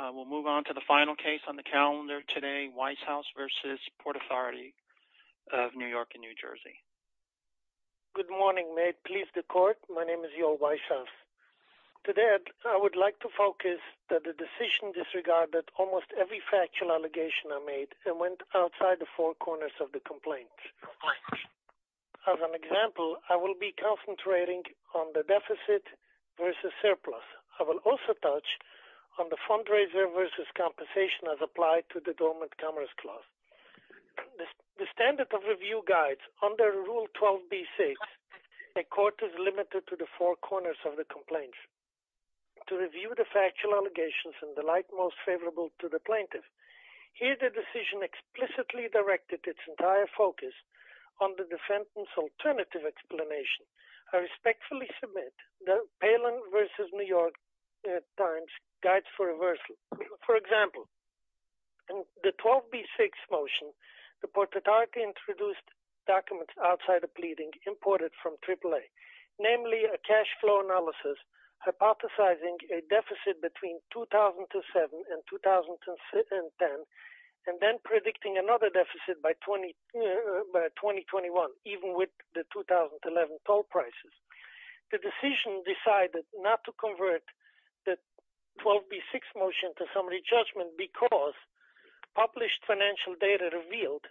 Good morning, may it please the Court, my name is Yoel Weisshaus. Today, I would like to focus that the decision disregarded almost every factual allegation I made and went outside the four corners of the complaint. As an example, I will be concentrating on the deficit versus surplus. I will also touch on the fundraiser versus compensation as applied to the dormant commerce clause. The standard of review guides under Rule 12b6, a court is limited to the four corners of the complaint. To review the factual allegations and the like most favorable to the plaintiff, here the decision explicitly directed its entire focus on the defendant's alternative explanation. I respectfully submit the Palin versus New York times guides for reversal. For example, in the 12b6 motion, the Port Authority introduced documents outside the pleading imported from AAA. Namely, a cash flow analysis hypothesizing a deficit between 2007 and 2010, and then predicting another deficit by 2021, even with the 2011 toll prices. The decision decided not to convert the 12b6 motion to summary judgment because published financial data revealed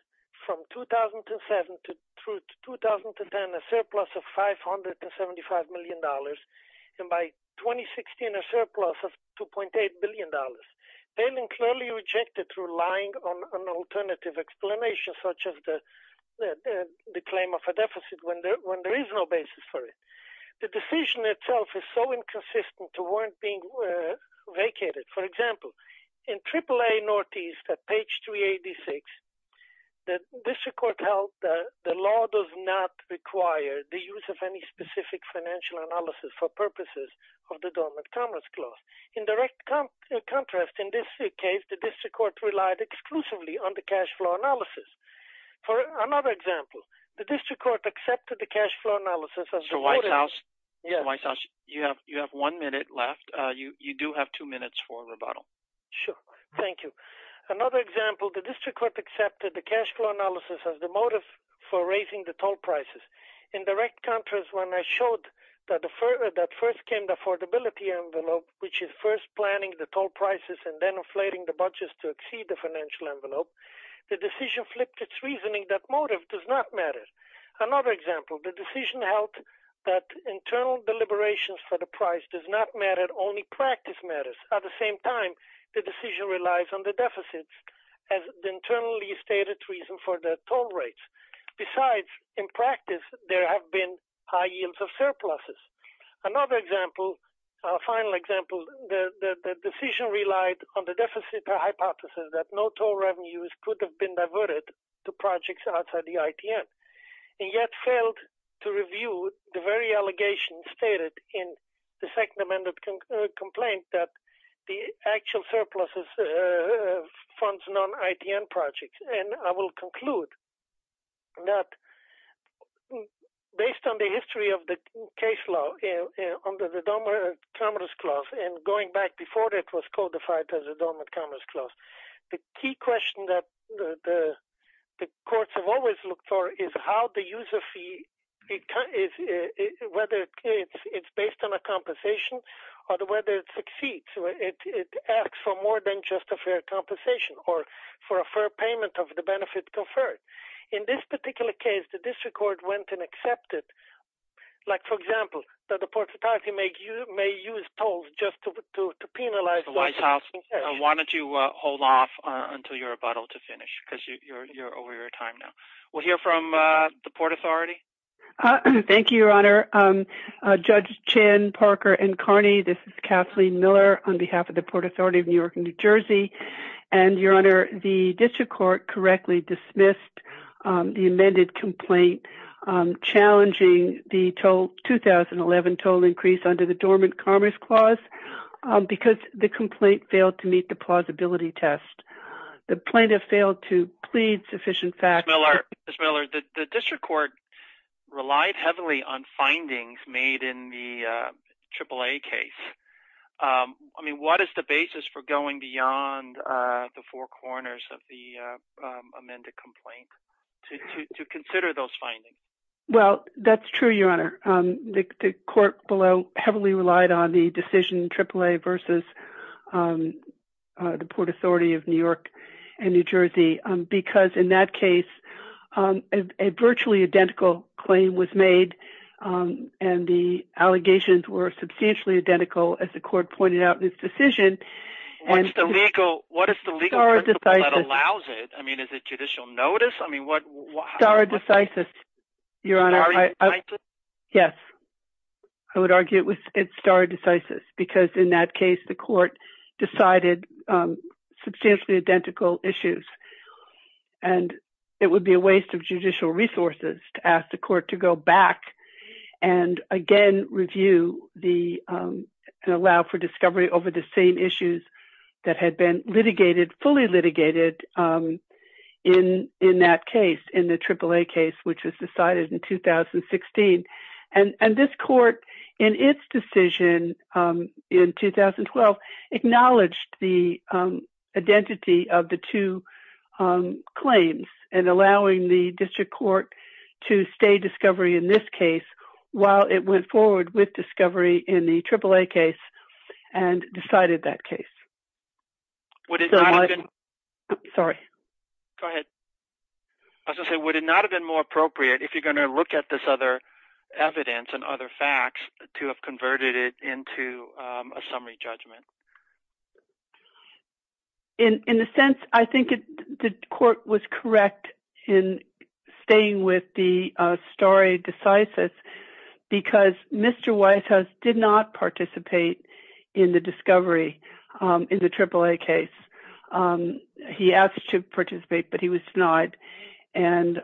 from 2007 to 2010, a surplus of $575 million, and by 2016, a surplus of $2.8 billion. Palin clearly rejected relying on an alternative explanation such as the claim of a deficit when there is no basis for it. The decision itself is so inconsistent to warrant being vacated. For example, in AAA Northeast at page 386, the district court held that the law does not require the use of any specific financial analysis for purposes of the dormant commerce clause. In direct contrast, in this case, the district court relied exclusively on the cash flow analysis. For another example, the district court accepted the cash flow analysis as the motive So, White House, you have one minute left. You do have two minutes for rebuttal. Sure. Thank you. Another example, the district court accepted the cash flow analysis as the motive for raising the toll prices. In direct contrast, when I showed that first came the affordability envelope, which is first planning the toll prices and then inflating the budgets to exceed the financial envelope, the decision flipped its reasoning that motive does not matter. Another example, the decision held that internal deliberations for the price does not matter, only practice matters. At the same time, the decision relies on the deficits as the internally stated reason for the toll rates. Besides, in practice, there have been high yields of surpluses. Another example, a final example, the decision relied on the deficit hypothesis that no toll revenues could have been diverted to projects outside the ITN and yet failed to review the very allegations stated in the second amended complaint that the actual surpluses funds non-ITN projects. I will conclude that based on the history of the case law, going back before it was codified, the key question that the courts have always looked for is how the user fee, whether it's based on a compensation or whether it succeeds. It asks for more than just a fair compensation or for a fair payment of the benefit conferred. In this particular case, the district court went and accepted, like for example, that the Port Authority may use tolls just to penalize. The White House wanted to hold off until your rebuttal to finish because you're over your time now. We'll hear from the Port Authority. Thank you, Your Honor. Judge Chan, Parker, and Carney, this is Kathleen Miller on behalf of the Port Authority of New York and New York. The district court correctly dismissed the amended complaint challenging the 2011 toll increase under the dormant commerce clause because the complaint failed to meet the plausibility test. The plaintiff failed to plead sufficient facts. Ms. Miller, the district court relied on findings made in the AAA case. What is the basis for going beyond the four corners of the amended complaint to consider those findings? Well, that's true, Your Honor. The court below heavily relied on the decision in AAA versus the Port Authority of New York and New Jersey because in that case, a virtually identical claim was made and the allegations were substantially identical as the court pointed out in its decision. What is the legal principle that allows it? I mean, is it judicial notice? Stare decisis, Your Honor. Stare decisis? Yes, I would argue it was stare decisis because in that case, the court decided substantially identical issues and it would be a waste of judicial resources to ask the court to go back and again review and allow for discovery over the same issues that had been litigated, fully litigated in that case, in the AAA case, which was decided in 2016. And this court, in its decision in 2012, acknowledged the identity of the two claims and allowing the district court to stay discovery in this case while it went forward with discovery in the AAA case and decided that case. Sorry. Go ahead. I was going to say, would it not have been more facts to have converted it into a summary judgment? In a sense, I think the court was correct in staying with the stare decisis because Mr. Whitehouse did not participate in the discovery in the AAA case. He asked to participate, but he was denied. And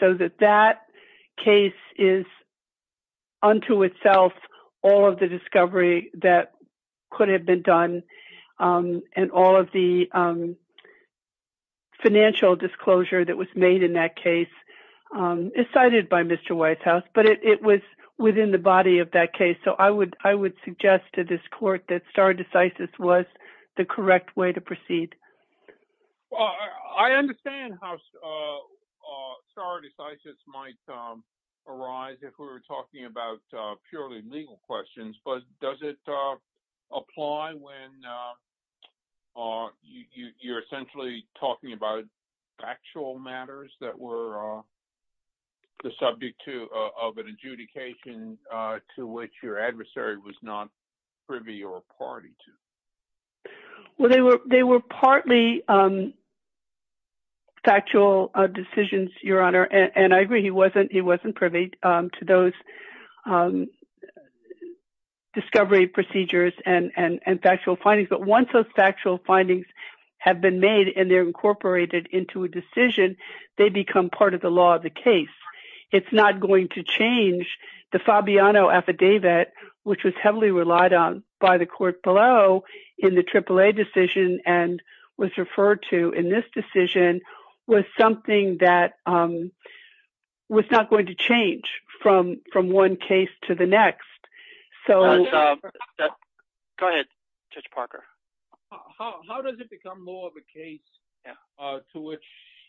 so that that is unto itself, all of the discovery that could have been done and all of the financial disclosure that was made in that case is cited by Mr. Whitehouse, but it was within the body of that case. So I would suggest to this court that stare decisis was the correct way to proceed. Well, I understand how stare decisis might arise if we were talking about purely legal questions, but does it apply when you're essentially talking about actual matters that were the subject of an adjudication to which your adversary was not privy or party to? Well, they were partly factual decisions, Your Honor, and I agree he wasn't privy to those discovery procedures and factual findings. But once those factual findings have been made and they're incorporated into a decision, they become part of the law of the case. It's not going to in the AAA decision and was referred to in this decision was something that was not going to change from one case to the next. Go ahead, Judge Parker. How does it become more of a case to which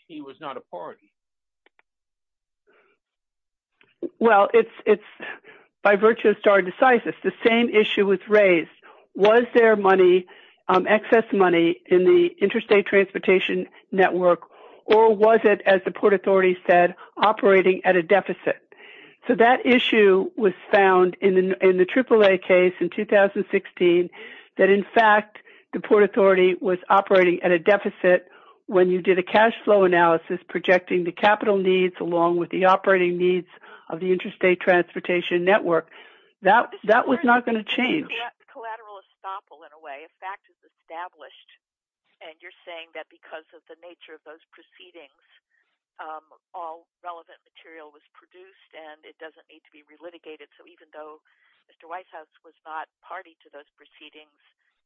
he was not a party? Well, it's by virtue of stare decisis, the same issue was raised. Was there money, excess money in the Interstate Transportation Network or was it, as the Port Authority said, operating at a deficit? So that issue was found in the AAA case in 2016 that, in fact, the Port Authority was operating at a deficit when you did a cash flow analysis projecting the capital needs along with the operating needs of the Interstate Transportation Network. That was not going to change. It's a collateral estoppel in a way. A fact is established and you're saying that because of the nature of those proceedings, all relevant material was produced and it doesn't need to be relitigated. So even though Mr. Weishaus was not party to those proceedings,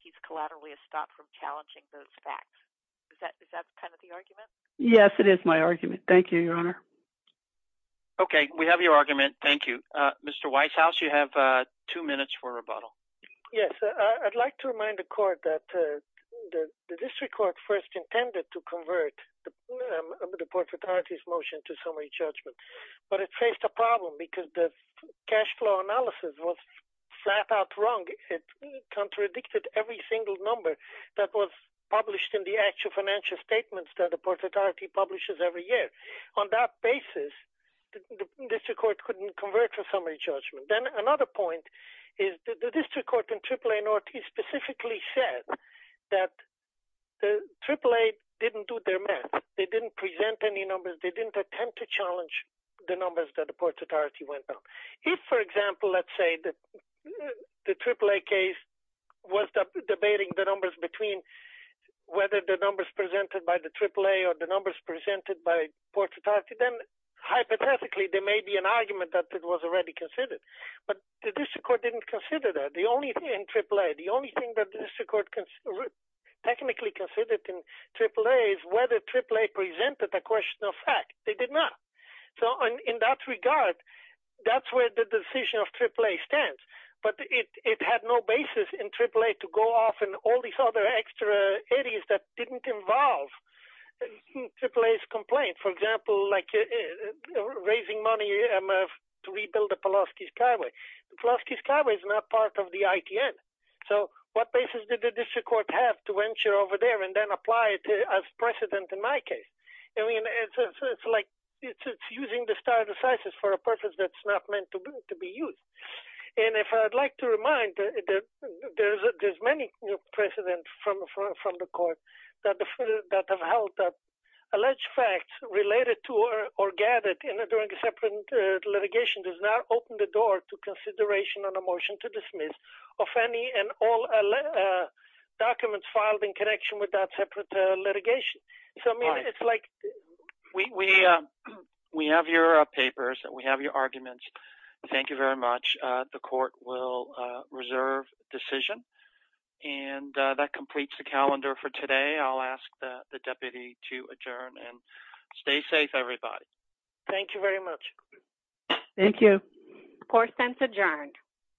he's collaterally estopped from challenging those facts. Is that kind of the argument? Yes, it is my argument. Thank you, Your Honor. Okay, we have your argument. Thank you. Mr. Weishaus, you have two minutes for rebuttal. Yes, I'd like to remind the Court that the District Court first intended to convert the Port Authority's motion to summary judgment, but it faced a problem because the cash flow analysis was flat out wrong. It contradicted every single number that was published in the financial statements that the Port Authority publishes every year. On that basis, the District Court couldn't convert to summary judgment. Then another point is that the District Court in AAA North specifically said that AAA didn't do their math. They didn't present any numbers. They didn't attempt to challenge the numbers that the Port Authority went on. If, for example, let's say that the AAA case was debating the numbers between whether the numbers presented by the AAA or the numbers presented by Port Authority, then hypothetically there may be an argument that it was already considered. But the District Court didn't consider that. The only thing in AAA, the only thing that the District Court technically considered in AAA is whether AAA presented a question of fact. They did not. So in that regard, that's where the decision of AAA stands. But it had no basis in AAA to go off and all these other extra eddies that didn't involve AAA's complaint. For example, like raising money to rebuild the Pulaski Skyway. Pulaski Skyway is not part of the ITN. So what basis did the District Court have to venture over there and then apply it as precedent in my case? I mean, it's like using the star of the census for a purpose that's not meant to be used. And if I'd like to remind that there's many precedents from the court that have held that alleged facts related to or gathered during a separate litigation does not open the door to consideration on a motion to dismiss of any and all documents filed in connection with that litigation. So I mean, it's like... We have your papers and we have your arguments. Thank you very much. The court will reserve decision. And that completes the calendar for today. I'll ask the deputy to adjourn and stay safe, everybody. Thank you very much. Thank you. Court sent adjourned.